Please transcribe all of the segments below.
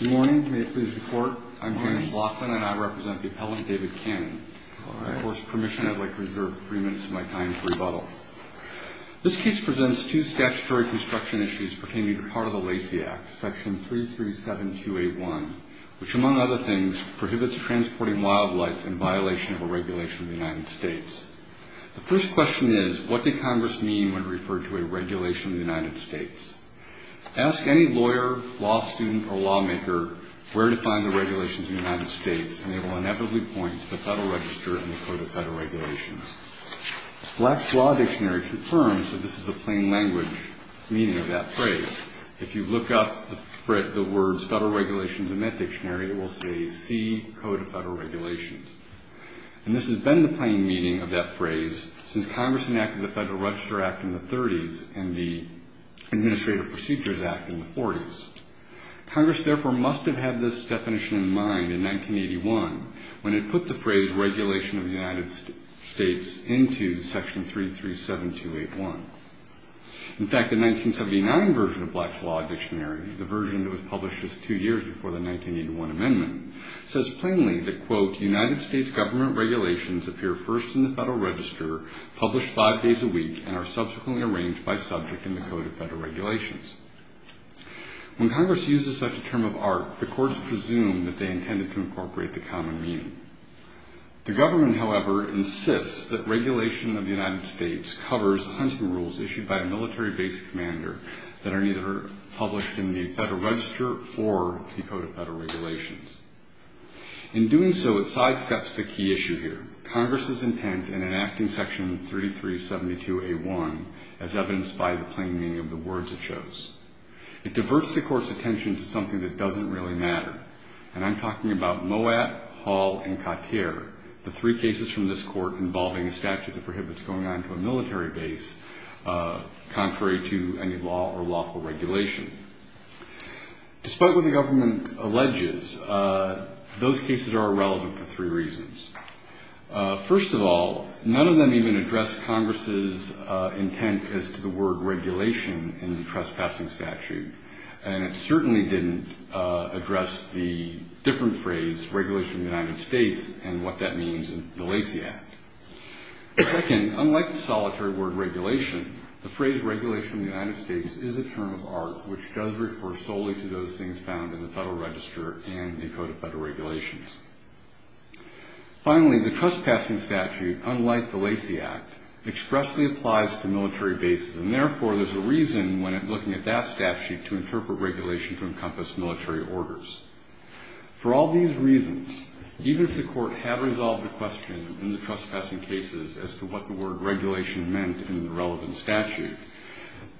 Good morning, may it please the court. I'm James Laughlin, and I represent the appellant David Cannon. With your permission, I'd like to reserve three minutes of my time for rebuttal. This case presents two statutory construction issues pertaining to part of the Lacey Act, section 337281, which, among other things, prohibits transporting wildlife in violation of a regulation of the United States. The first question is, what did Congress mean when it referred to a regulation of the United States? Ask any lawyer, law student, or lawmaker where to find the regulations in the United States, and they will inevitably point to the Federal Register and the Code of Federal Regulations. The Flax Law Dictionary confirms that this is a plain language meaning of that phrase. If you look up the words Federal Regulations in that dictionary, it will say C, Code of Federal Regulations. And this has been the plain meaning of that phrase since Congress enacted the Federal Register Act in the 30s, and the Administrative Procedures Act in the 40s. Congress, therefore, must have had this definition in mind in 1981 when it put the phrase regulation of the United States into section 337281. In fact, the 1979 version of Flax Law Dictionary, the version that was published just two years before the 1981 amendment, says plainly that, quote, United States government regulations appear first in the Federal Register, published five days a week, and are subsequently arranged by subject in the Code of Federal Regulations. When Congress uses such a term of art, the courts presume that they intended to incorporate the common meaning. The government, however, insists that regulation of the United States covers hunting rules issued by a military-based commander that are neither published in the Federal Register or the Code of Federal Regulations. In doing so, it sidesteps the key issue here. Congress's intent in enacting section 3372A1 as evidenced by the plain meaning of the words it chose. It diverts the court's attention to something that doesn't really matter. And I'm talking about Moat, Hall, and Cotier, the three cases from this court involving a statute that prohibits going on to a military base contrary to any law or lawful regulation. Despite what the government alleges, those cases are irrelevant for three reasons. First of all, none of them even address Congress's intent as to the word regulation in the trespassing statute, and it certainly didn't address the different phrase, regulation of the United States, and what that means in the Lacey Act. Second, unlike the solitary word regulation, the phrase regulation of the United States is a term of art which does refer solely to those things found in the Federal Register and the Code of Federal Regulations. Finally, the trespassing statute, unlike the Lacey Act, expressly applies to military bases, and therefore there's a reason when looking at that statute to interpret regulation to encompass military orders. For all these reasons, even if the court had resolved the question in the trespassing cases as to what the word regulation meant in the relevant statute,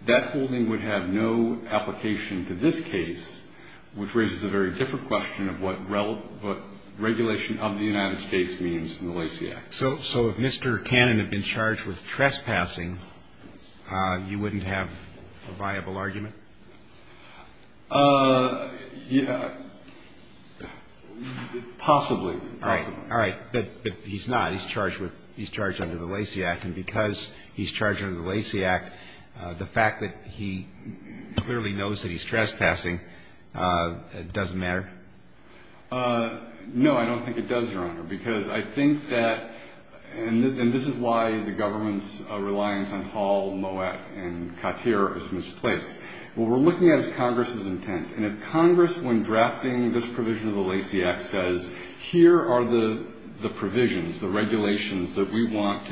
that holding would have no application to this case, which raises a very different question of what regulation of the United States means in the Lacey Act. So if Mr. Cannon had been charged with trespassing, you wouldn't have a viable argument? Yeah, possibly. All right. But he's not. He's charged under the Lacey Act. And because he's charged under the Lacey Act, the fact that he clearly knows that he's trespassing doesn't matter? No, I don't think it does, Your Honor, because I think that, and this is why the government's reliance on Hall, Moet, and Cotier is misplaced. What we're looking at is Congress's intent. And if Congress, when drafting this provision of the Lacey Act, says, here are the provisions, the regulations that we want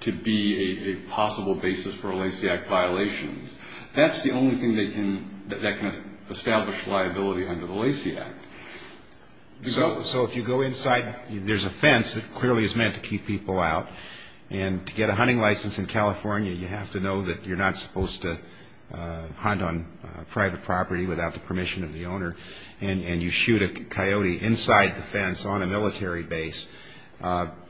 to be a possible basis for a Lacey Act violation, that's the only thing that can establish liability under the Lacey Act. So if you go inside, there's a fence that clearly is meant to keep people out. And to get a hunting license in California, you have to know that you're not supposed to hunt on private property without the permission of the owner. And you shoot a coyote inside the fence on a military base,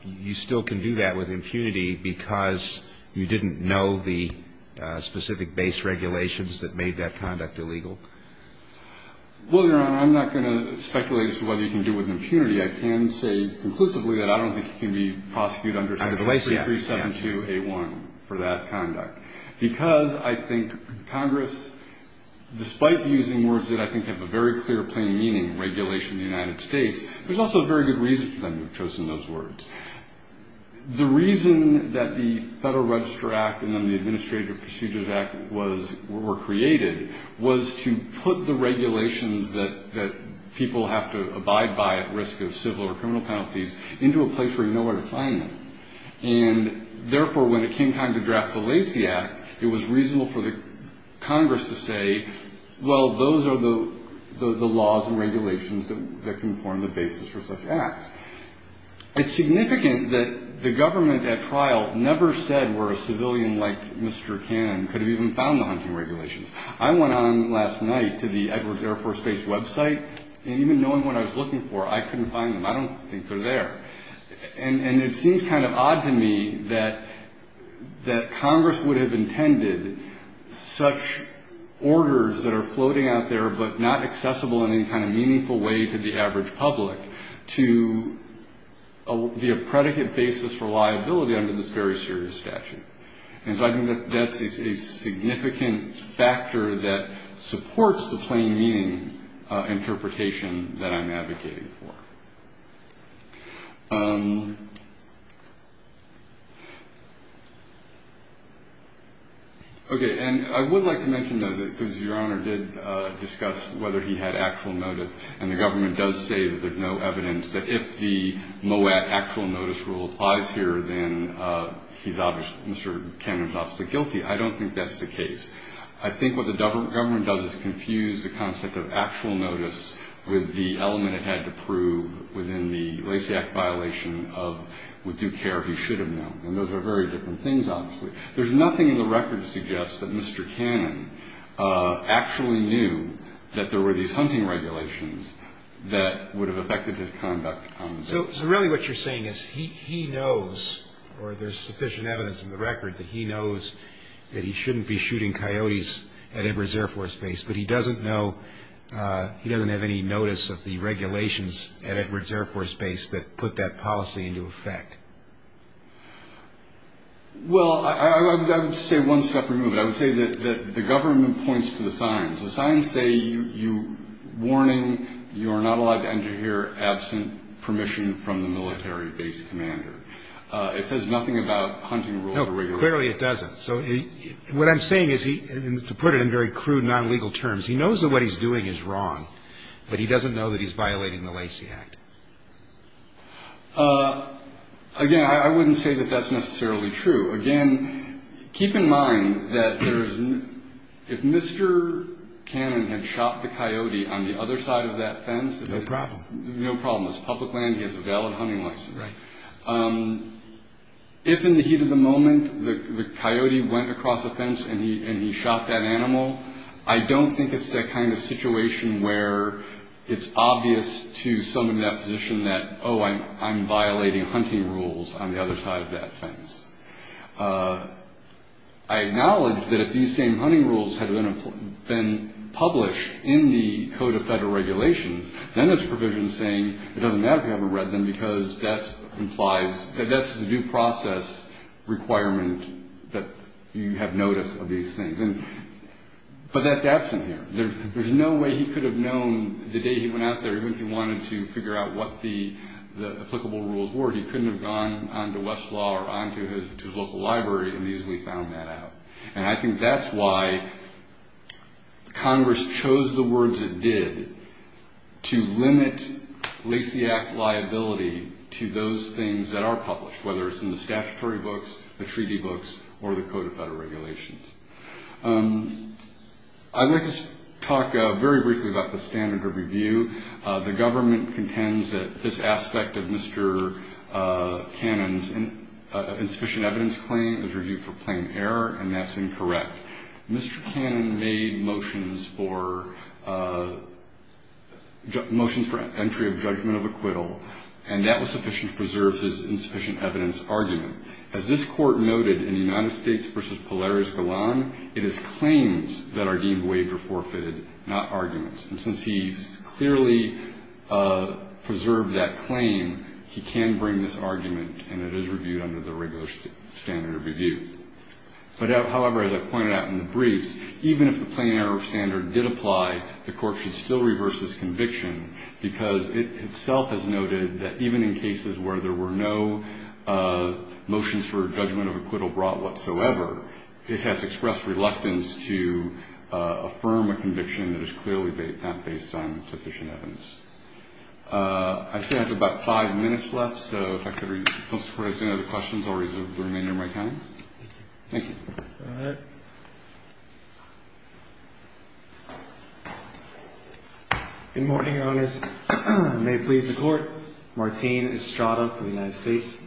you still can do that with impunity because you didn't know the specific base regulations that made that conduct illegal? Well, Your Honor, I'm not going to speculate as to what you can do with impunity. I can say conclusively that I don't think he can be prosecuted under section 3372A1 for that conduct. Because I think Congress, despite using words that I think have a very clear, plain meaning, regulation of the United States, there's also a very good reason for them to have chosen those words. The reason that the Federal Register Act and then the Administrative Procedures Act were created was to put the regulations that people have to abide by at risk of civil or criminal penalties into a place where you know where to find them. And therefore, when it came time to draft the Lacey Act, it was reasonable for the Congress to say, well, those are the laws and regulations that can form the basis for such acts. It's significant that the government at trial never said where a civilian like Mr. Cannon could have even found the hunting regulations. I went on last night to the Edwards Air Force Base website, and even knowing what I was looking for, I couldn't find them. I don't think they're there. And it seems kind of odd to me that Congress would have intended such orders that are floating out there but not accessible in any kind of meaningful way to the average public to be a predicate basis for liability under this very serious statute. And so I think that that's a significant factor that supports the plain meaning interpretation that I'm advocating for. Okay. And I would like to mention, though, because Your Honor did discuss whether he had actual notice, and the government does say that there's no evidence that if the MOAT, actual notice rule, applies here, then he's obviously, Mr. Cannon's obviously guilty. I don't think that's the case. I think what the government does is confuse the concept of actual notice with the element it had to prove within the Lacey Act violation of with due care he should have known. And those are very different things, obviously. There's nothing in the record that suggests that Mr. Cannon actually knew that there were these hunting regulations that would have affected his conduct. So really what you're saying is he knows, or there's sufficient evidence in the record, that he knows that he shouldn't be shooting coyotes at Edwards Air Force Base, but he doesn't know, he doesn't have any notice of the regulations at Edwards Air Force Base that put that policy into effect. Well, I would say one step removed. I would say that the government points to the signs. The signs say, warning, you are not allowed to enter here absent permission from the military base commander. It says nothing about hunting rules. No, clearly it doesn't. So what I'm saying is, to put it in very crude, non-legal terms, he knows that what he's doing is wrong, but he doesn't know that he's violating the Lacey Act. Again, I wouldn't say that that's necessarily true. Again, keep in mind that if Mr. Cannon had shot the coyote on the other side of that fence... No problem. No problem. It's public land. He has a valid hunting license. Right. If in the heat of the moment the coyote went across the fence and he shot that animal, I don't think it's that kind of situation where it's obvious to someone in that position that, oh, I'm violating hunting rules on the other side of that fence. I acknowledge that if these same hunting rules had been published in the Code of Federal Regulations, then there's provisions saying it doesn't matter if you haven't read them, because that's the due process requirement that you have notice of these things. But that's absent here. There's no way he could have known the day he went out there, even if he wanted to figure out what the applicable rules were. He couldn't have gone on to Westlaw or on to his local library and easily found that out. And I think that's why Congress chose the words it did to limit Lacey Act liability to those things that are published, whether it's in the statutory books, the treaty books, or the Code of Federal Regulations. I'd like to talk very briefly about the standard of review. The government contends that this aspect of Mr. Cannon's insufficient evidence claim is reviewed for plain error, and that's incorrect. Mr. Cannon made motions for entry of judgment of acquittal, and that was sufficient to preserve his insufficient evidence argument. As this Court noted in the United States v. Polaris-Golan, it is claims that are deemed waived or forfeited, not arguments. And since he's clearly preserved that claim, he can bring this argument, and it is reviewed under the regular standard of review. However, as I pointed out in the briefs, even if the plain error standard did apply, the Court should still reverse this conviction, because it itself has noted that even in cases where there were no motions for judgment of acquittal brought whatsoever, it has expressed reluctance to affirm a conviction that is clearly not based on sufficient evidence. I say I have about five minutes left, so if I could request any other questions, I'll remain in my time. Thank you. Go ahead. Good morning, Your Honors. May it please the Court. Martin Estrada for the United States.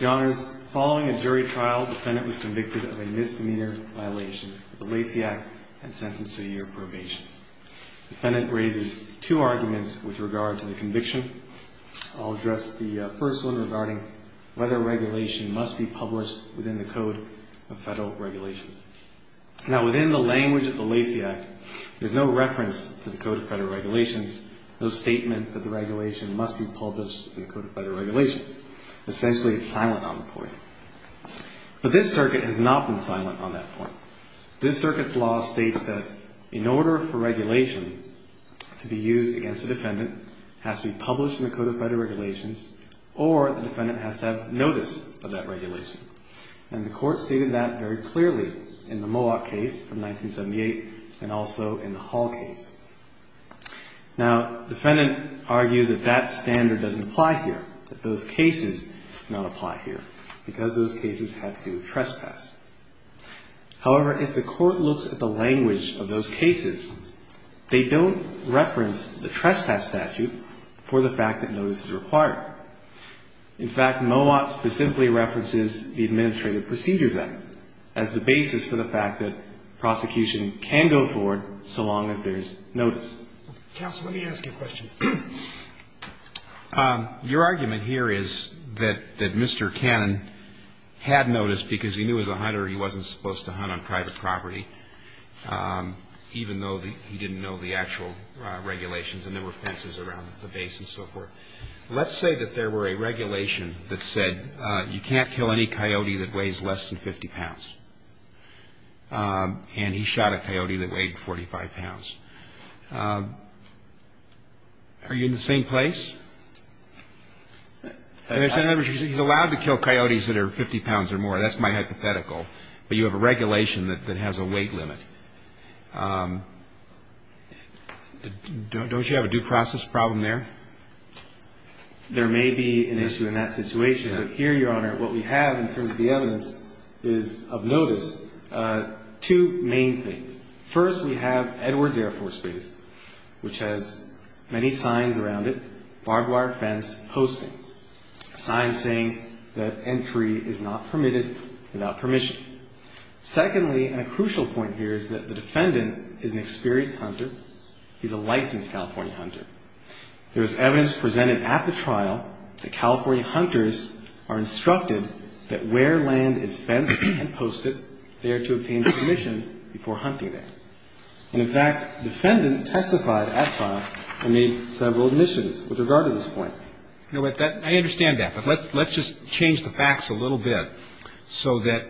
Your Honors, following a jury trial, the defendant was convicted of a misdemeanor violation of the Lacey Act and sentenced to a year of probation. The defendant raises two arguments with regard to the conviction. I'll address the first one regarding whether regulation must be published within the Code of Federal Regulations. Now, within the language of the Lacey Act, there's no reference to the Code of Federal Regulations, no statement that the regulation must be published in the Code of Federal Regulations. Essentially, it's silent on the point. But this circuit has not been silent on that point. This circuit's law states that in order for regulation to be used against a defendant, it has to be published in the Code of Federal Regulations or the defendant has to have notice of that regulation. And the Court stated that very clearly in the Mowat case from 1978 and also in the Hall case. Now, the defendant argues that that standard doesn't apply here, that those cases do not apply here, because those cases have to do with trespass. However, if the Court looks at the language of those cases, they don't reference the trespass statute for the fact that notice is required. In fact, Mowat specifically references the Administrative Procedures Act as the basis for the fact that prosecution can go forward so long as there's notice. Counsel, let me ask you a question. Your argument here is that Mr. Cannon had notice because he knew as a hunter he wasn't supposed to hunt on private property, even though he didn't know the actual regulations and there were fences around the base and so forth. Let's say that there were a regulation that said you can't kill any coyote that weighs less than 50 pounds, and he shot a coyote that weighed 45 pounds. Are you in the same place? He's allowed to kill coyotes that are 50 pounds or more. That's my hypothetical. But you have a regulation that has a weight limit. Don't you have a due process problem there? There may be an issue in that situation. But here, Your Honor, what we have in terms of the evidence is of notice two main things. First, we have Edwards Air Force Base, which has many signs around it, barbed wire fence, posting, signs saying that entry is not permitted without permission. Secondly, and a crucial point here is that the defendant is an experienced hunter. He's a licensed California hunter. There is evidence presented at the trial that California hunters are instructed that where land is fenced and posted, they are to obtain permission before hunting there. And, in fact, the defendant testified at trial and made several admissions with regard to this point. I understand that, but let's just change the facts a little bit so that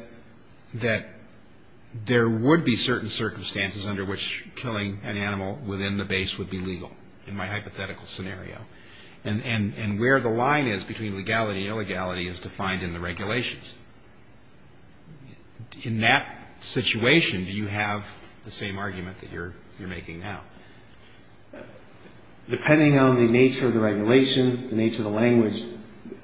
there would be certain circumstances under which killing an animal within the base would be legal in my hypothetical scenario. And where the line is between legality and illegality is defined in the regulations. In that situation, do you have the same argument that you're making now? Depending on the nature of the regulation, the nature of the language,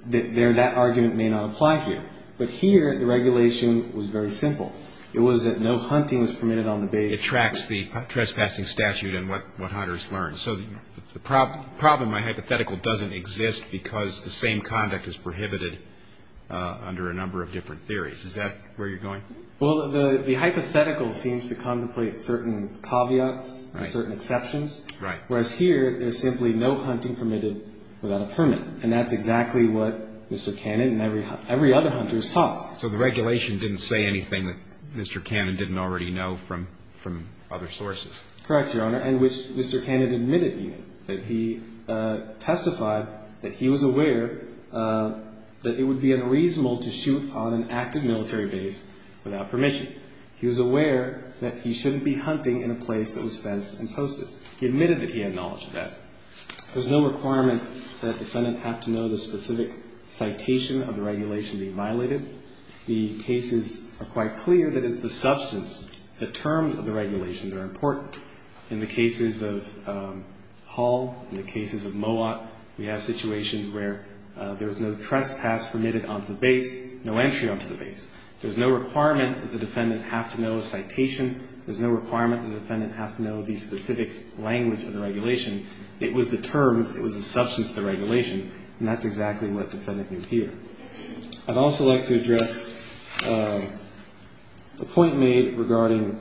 that argument may not apply here. But here, the regulation was very simple. It was that no hunting was permitted on the base. It tracks the trespassing statute and what hunters learn. So the problem in my hypothetical doesn't exist because the same conduct is prohibited under a number of different theories. Is that where you're going? Well, the hypothetical seems to contemplate certain caveats, certain exceptions. Right. Whereas here, there's simply no hunting permitted without a permit. And that's exactly what Mr. Cannon and every other hunter is taught. So the regulation didn't say anything that Mr. Cannon didn't already know from other sources? Correct, Your Honor. And which Mr. Cannon admitted he knew. That he testified that he was aware that it would be unreasonable to shoot on an active military base without permission. He was aware that he shouldn't be hunting in a place that was fenced and posted. He admitted that he had knowledge of that. There's no requirement that a defendant have to know the specific citation of the regulation being violated. The cases are quite clear that it's the substance, the terms of the regulation that are important. In the cases of Hull, in the cases of Mowat, we have situations where there's no trespass permitted onto the base, no entry onto the base. There's no requirement that the defendant have to know a citation. There's no requirement that the defendant have to know the specific language of the regulation. It was the terms. It was the substance of the regulation. And that's exactly what the defendant knew here. I'd also like to address a point made regarding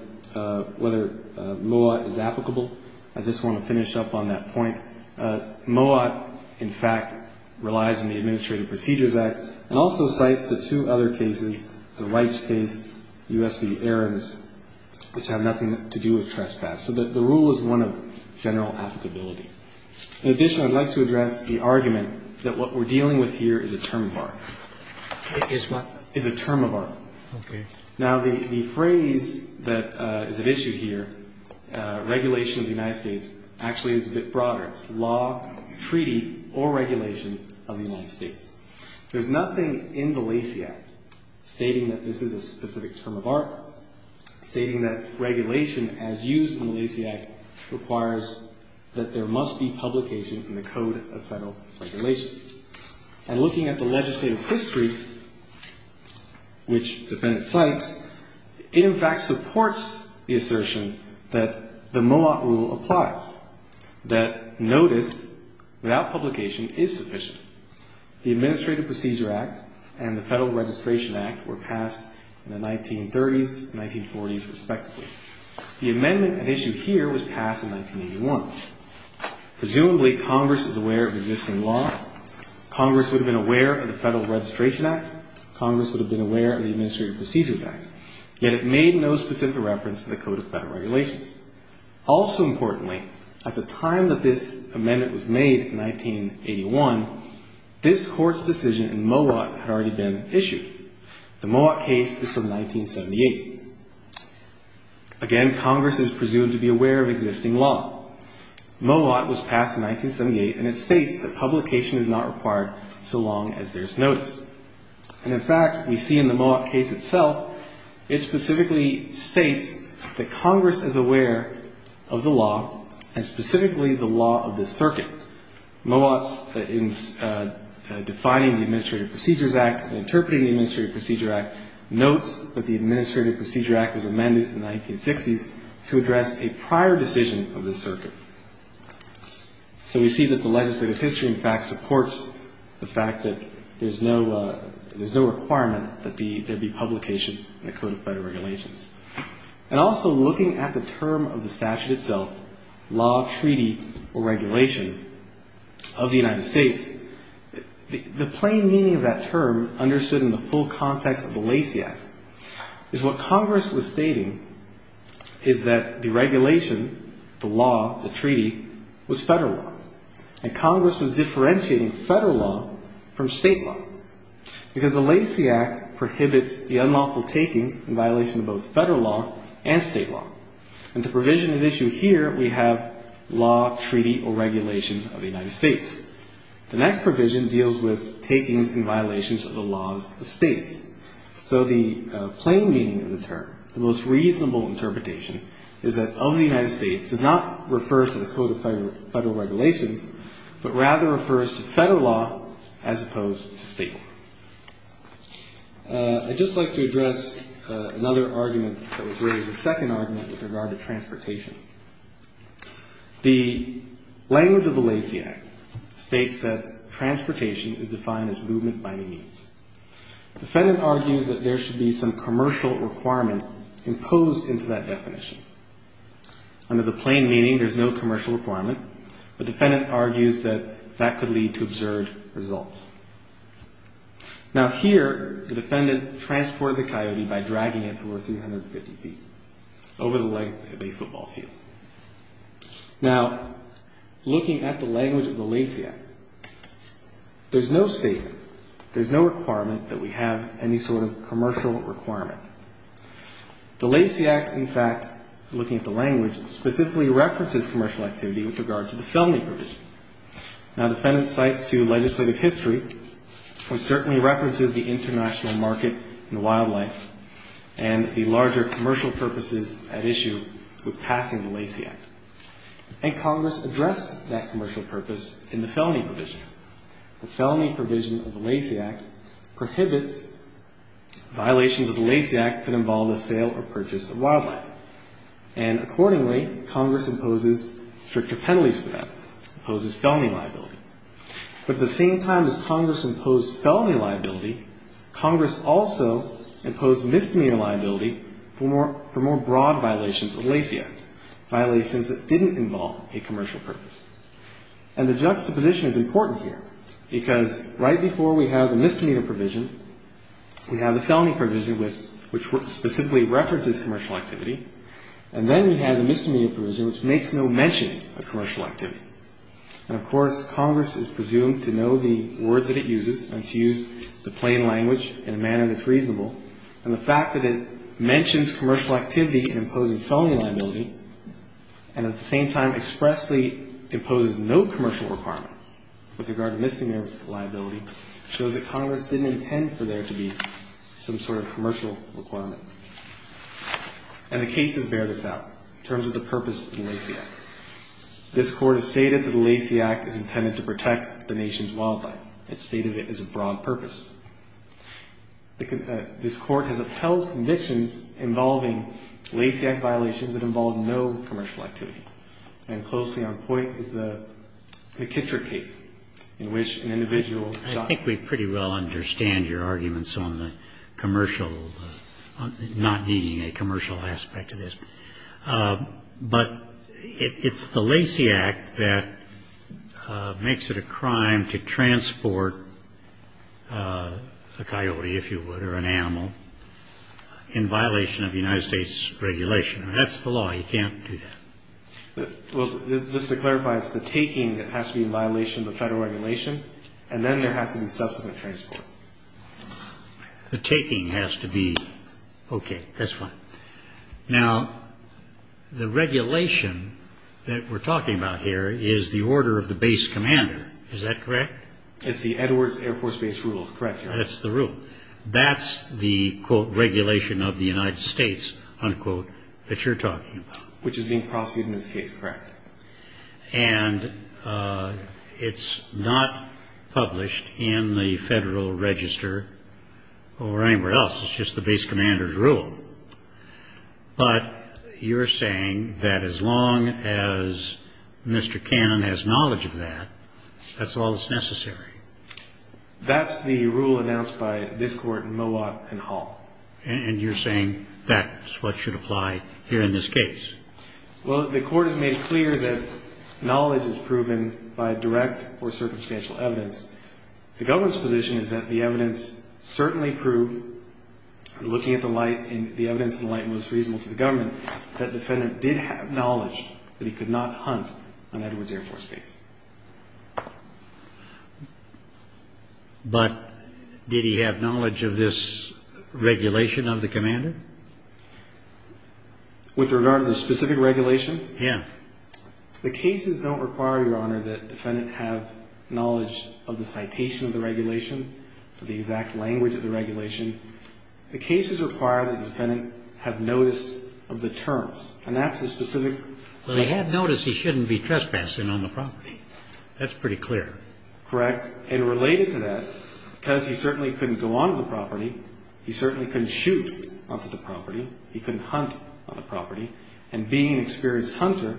whether Mowat is applicable. I just want to finish up on that point. Mowat, in fact, relies on the Administrative Procedures Act and also cites the two other cases, the rights case, U.S. v. Ahrens, which have nothing to do with trespass. So the rule is one of general applicability. In addition, I'd like to address the argument that what we're dealing with here is a term of art. It is what? It's a term of art. Okay. Now, the phrase that is at issue here, regulation of the United States, actually is a bit broader. It's law, treaty, or regulation of the United States. There's nothing in the Lacey Act stating that this is a specific term of art, stating that regulation, as used in the Lacey Act, requires that there must be publication in the Code of Federal Regulations. And looking at the legislative history, which the defendant cites, it, in fact, supports the assertion that the Mowat rule applies, that notice without publication is sufficient. The Administrative Procedure Act and the Federal Registration Act were passed in the 1930s, 1940s, respectively. The amendment at issue here was passed in 1981. Presumably, Congress is aware of existing law. Congress would have been aware of the Federal Registration Act. Congress would have been aware of the Administrative Procedures Act. Yet it made no specific reference to the Code of Federal Regulations. Also importantly, at the time that this amendment was made in 1981, this Court's decision in Mowat had already been issued. The Mowat case is from 1978. Again, Congress is presumed to be aware of existing law. Mowat was passed in 1978, and it states that publication is not required so long as there's notice. And, in fact, we see in the Mowat case itself, it specifically states that Congress is aware of the law and specifically the law of the circuit. Mowat's defining the Administrative Procedures Act and interpreting the Administrative Procedure Act notes that the Administrative Procedure Act was amended in the 1960s to address a prior decision of the circuit. So we see that the legislative history, in fact, supports the fact that there's no requirement that there be publication in the Code of Federal Regulations. And also looking at the term of the statute itself, law, treaty, or regulation of the United States, the plain meaning of that term understood in the full context of the Lacey Act is what Congress was stating is that the regulation, the law, the treaty, was federal law, and Congress was differentiating federal law from state law because the Lacey Act prohibits the unlawful taking in violation of both federal law and state law. And the provision of issue here, we have law, treaty, or regulation of the United States. The next provision deals with takings and violations of the laws of states. So the plain meaning of the term, the most reasonable interpretation, is that of the United States does not refer to the Code of Federal Regulations, but rather refers to federal law as opposed to state law. I'd just like to address another argument that was raised, the second argument, with regard to transportation. The language of the Lacey Act states that transportation is defined as movement by any means. The defendant argues that there should be some commercial requirement imposed into that definition. Under the plain meaning, there's no commercial requirement, but the defendant argues that that could lead to absurd results. Now, here, the defendant transported the coyote by dragging it over 350 feet, over the length of a football field. Now, looking at the language of the Lacey Act, there's no statement, there's no requirement that we have any sort of commercial requirement. The Lacey Act, in fact, looking at the language, specifically references commercial activity with regard to the felony provision. Now, the defendant cites to legislative history, which certainly references the international market and wildlife and the larger commercial purposes at issue with passing the Lacey Act. And Congress addressed that commercial purpose in the felony provision. The felony provision of the Lacey Act prohibits violations of the Lacey Act that involve the sale or purchase of wildlife. And accordingly, Congress imposes stricter penalties for that, imposes felony liability. But at the same time as Congress imposed felony liability, Congress also imposed misdemeanor liability for more broad violations of the Lacey Act, violations that didn't involve a commercial purpose. And the juxtaposition is important here, because right before we have the misdemeanor provision, we have the felony provision, which specifically references commercial activity, and then we have the misdemeanor provision, which makes no mention of commercial activity. And, of course, Congress is presumed to know the words that it uses and to use the plain language in a manner that's reasonable. And the fact that it mentions commercial activity in imposing felony liability and at the same time expressly imposes no commercial requirement with regard to misdemeanor liability shows that Congress didn't intend for there to be some sort of commercial requirement. And the cases bear this out in terms of the purpose of the Lacey Act. This Court has stated that the Lacey Act is intended to protect the nation's wildlife. It's stated it has a broad purpose. This Court has upheld convictions involving Lacey Act violations that involve no commercial activity. And closely on point is the McKittrick case, in which an individual got... I think we pretty well understand your arguments on the commercial, not needing a commercial aspect of this. But it's the Lacey Act that makes it a crime to transport a coyote, if you would, or an animal, in violation of United States regulation. That's the law. You can't do that. Just to clarify, it's the taking that has to be in violation of the federal regulation, and then there has to be subsequent transport. The taking has to be... Okay. That's fine. Now, the regulation that we're talking about here is the order of the base commander. Is that correct? It's the Edwards Air Force Base Rules. Correct. That's the rule. That's the, quote, regulation of the United States, unquote, that you're talking about. Which is being prosecuted in this case. Correct. And it's not published in the Federal Register or anywhere else. It's just the base commander's rule. But you're saying that as long as Mr. Cannon has knowledge of that, that's all that's necessary. That's the rule announced by this Court in Mowat and Hall. And you're saying that's what should apply here in this case. Well, the Court has made clear that knowledge is proven by direct or circumstantial evidence. The government's position is that the evidence certainly proved, looking at the light, and the evidence in the light was reasonable to the government, that the defendant did have knowledge that he could not hunt on Edwards Air Force Base. But did he have knowledge of this regulation of the commander? With regard to the specific regulation? Yeah. The cases don't require, Your Honor, that the defendant have knowledge of the citation of the regulation or the exact language of the regulation. The cases require that the defendant have notice of the terms. And that's the specific. Well, he had notice he shouldn't be trespassing on the property. That's pretty clear. Correct. And related to that, because he certainly couldn't go on the property, he certainly couldn't shoot onto the property, he couldn't hunt on the property, and being an experienced hunter,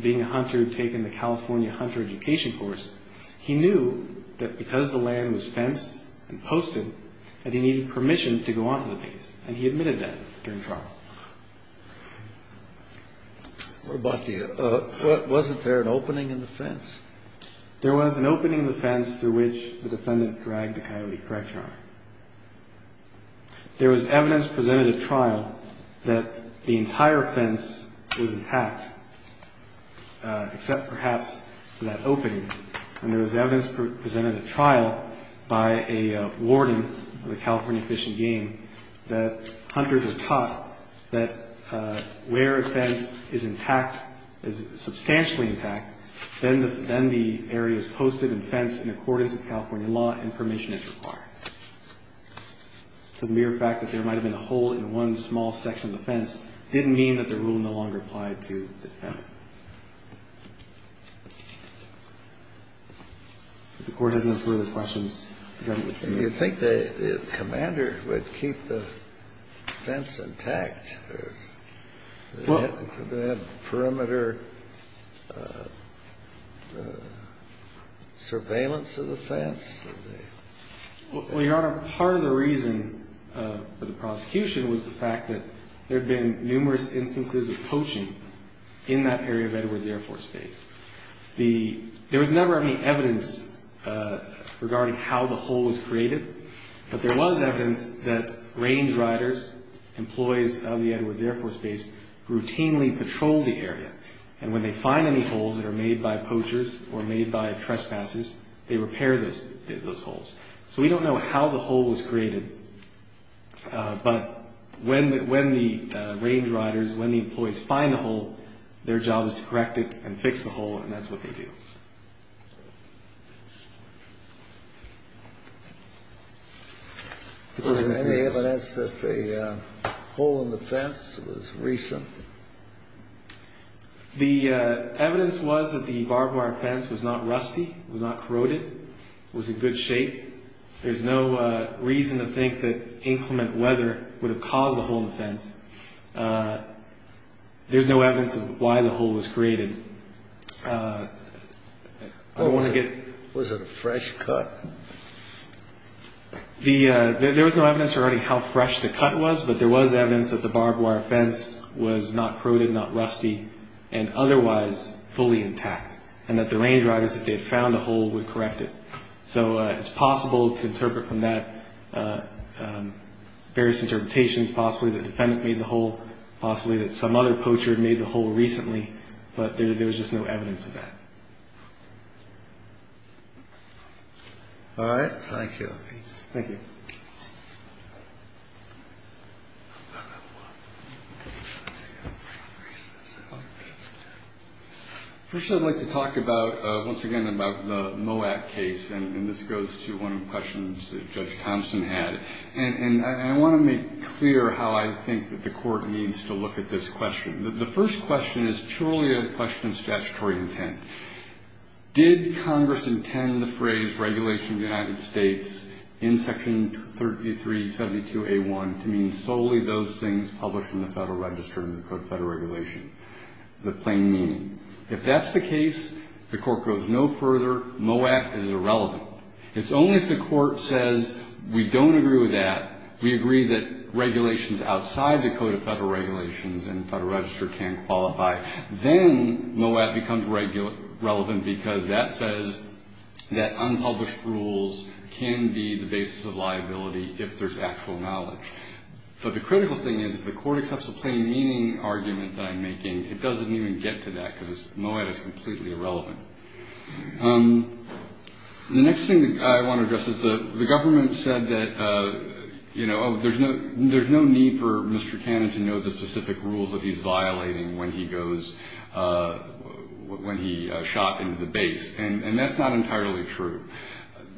being a hunter who'd taken the California Hunter Education course, he knew that because the land was fenced and posted that he needed permission to go onto the base. And he admitted that during trial. What about the, wasn't there an opening in the fence? There was an opening in the fence through which the defendant dragged the coyote, correct, Your Honor? There was evidence presented at trial that the entire fence was intact, except perhaps that opening. And there was evidence presented at trial by a warden of the California Fish and Game that hunters were taught that where a fence is intact, is substantially intact, then the area is posted and fenced in accordance with California law and permission is required. The mere fact that there might have been a hole in one small section of the fence didn't mean that the rule no longer applied to the defendant. If the Court has no further questions, Justice Kennedy. Do you think the commander would keep the fence intact? Well. Could they have perimeter surveillance of the fence? Well, Your Honor, part of the reason for the prosecution was the fact that there had been numerous instances of poaching in that area of Edwards Air Force Base. There was never any evidence regarding how the hole was created, but there was evidence that range riders, employees of the Edwards Air Force Base, routinely patrolled the area. And when they find any holes that are made by poachers or made by trespassers, they repair those. So we don't know how the hole was created, but when the range riders, when the employees find the hole, their job is to correct it and fix the hole, and that's what they do. Was there any evidence that the hole in the fence was recent? The evidence was that the barbed wire fence was not rusty, was not corroded, was in good shape. There's no reason to think that inclement weather would have caused the hole in the fence. There's no evidence of why the hole was created. Was it a fresh cut? There was no evidence regarding how fresh the cut was, but there was evidence that the barbed wire fence was not corroded, not rusty, and otherwise fully intact, and that the range riders, if they had found a hole, would correct it. So it's possible to interpret from that various interpretations, possibly that the defendant made the hole, possibly that some other poacher made the hole recently, but there was just no evidence of that. All right. Thank you. Thank you. First, I'd like to talk about, once again, about the Moab case, and this goes to one of the questions that Judge Thompson had. And I want to make clear how I think that the Court needs to look at this question. The first question is purely a question of statutory intent. Did Congress intend the phrase, regulation of the United States, in Section 3372A1, to mean solely those things published in the Federal Register and the Code of Federal Regulations, the plain meaning? If that's the case, the Court goes no further. Moab is irrelevant. It's only if the Court says, we don't agree with that, we agree that regulations outside the Code of Federal Regulations and Federal Register can qualify, then Moab becomes relevant because that says that unpublished rules can be the basis of liability if there's actual knowledge. But the critical thing is, if the Court accepts the plain meaning argument that I'm making, it doesn't even get to that because Moab is completely irrelevant. The next thing that I want to address is the government said that, you know, there's no need for Mr. Cannon to know the specific rules that he's violating when he goes, when he shot into the base. And that's not entirely true.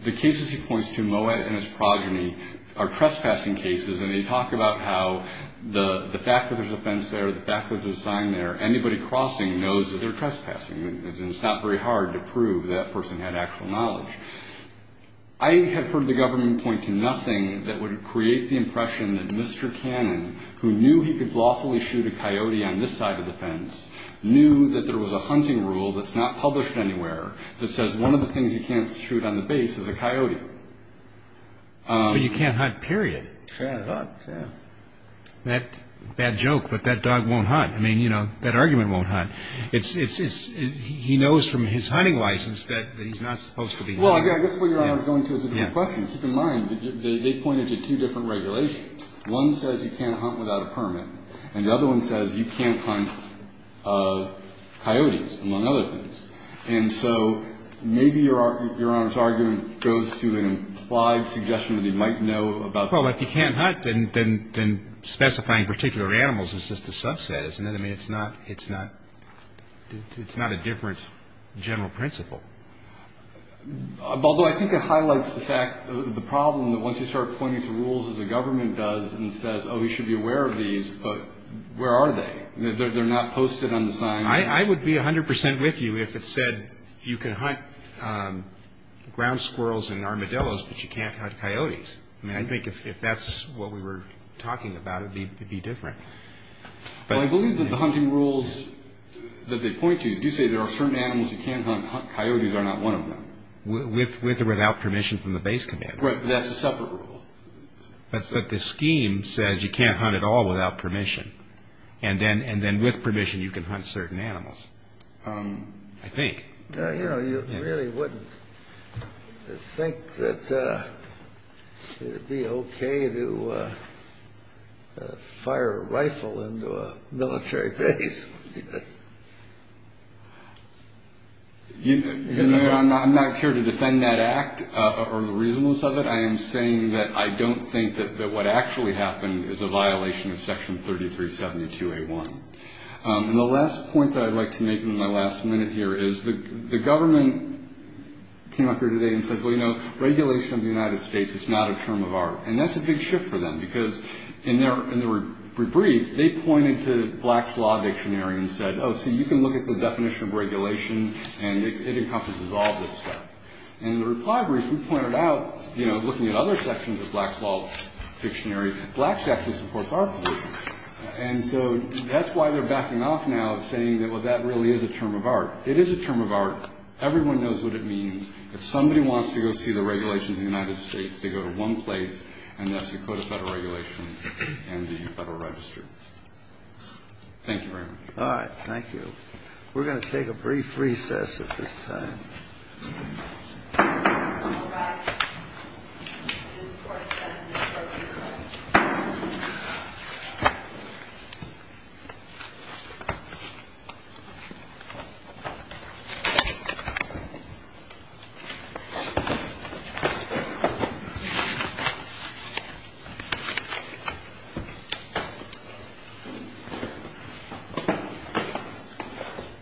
The cases he points to, Moab and its progeny, are trespassing cases, and they talk about how the fact that there's a fence there, the fact that there's a sign there, anybody crossing knows that they're trespassing. It's not very hard to prove that person had actual knowledge. I have heard the government point to nothing that would create the impression that Mr. Cannon, who knew he could lawfully shoot a coyote on this side of the fence, knew that there was a hunting rule that's not published anywhere that says one of the things you can't shoot on the base is a coyote. But you can't hunt, period. You can't hunt, yeah. Bad joke, but that dog won't hunt. I mean, you know, that argument won't hunt. He knows from his hunting license that he's not supposed to be hunting. Well, I guess what Your Honor is going to is a different question. Keep in mind, they pointed to two different regulations. One says you can't hunt without a permit, and the other one says you can't hunt coyotes, among other things. And so maybe Your Honor's argument goes to an implied suggestion that he might know about coyotes. Well, if he can't hunt, then specifying particular animals is just a subset, isn't it? I mean, it's not a different general principle. Although I think it highlights the problem that once you start pointing to rules as the government does and says, oh, you should be aware of these, but where are they? They're not posted on the sign. I would be 100 percent with you if it said you can hunt ground squirrels and armadillos, but you can't hunt coyotes. I mean, I think if that's what we were talking about, it would be different. Well, I believe that the hunting rules that they point to do say there are certain animals you can hunt. Coyotes are not one of them. With or without permission from the base commander. Right, but that's a separate rule. But the scheme says you can't hunt at all without permission, and then with permission you can hunt certain animals, I think. You know, you really wouldn't think that it would be okay to fire a rifle into a military base. I'm not here to defend that act or the reasonableness of it. I am saying that I don't think that what actually happened is a violation of Section 3372A1. And the last point that I'd like to make in my last minute here is the government came up here today and said, well, you know, regulation of the United States, it's not a term of art. And that's a big shift for them, because in the rebrief, they pointed to Black's Law Dictionary and said, oh, see, you can look at the definition of regulation, and it encompasses all this stuff. And in the reply brief, we pointed out, you know, looking at other sections of Black's Law Dictionary, Black's actually supports our position. And so that's why they're backing off now, saying that, well, that really is a term of art. It is a term of art. Everyone knows what it means. If somebody wants to go see the regulations of the United States, they go to one place, and that's the Code of Federal Regulations and the Federal Register. Thank you very much. All right. Thank you. We're going to take a brief recess at this time. We're going to go back. This is where it ends, and then we'll go to recess.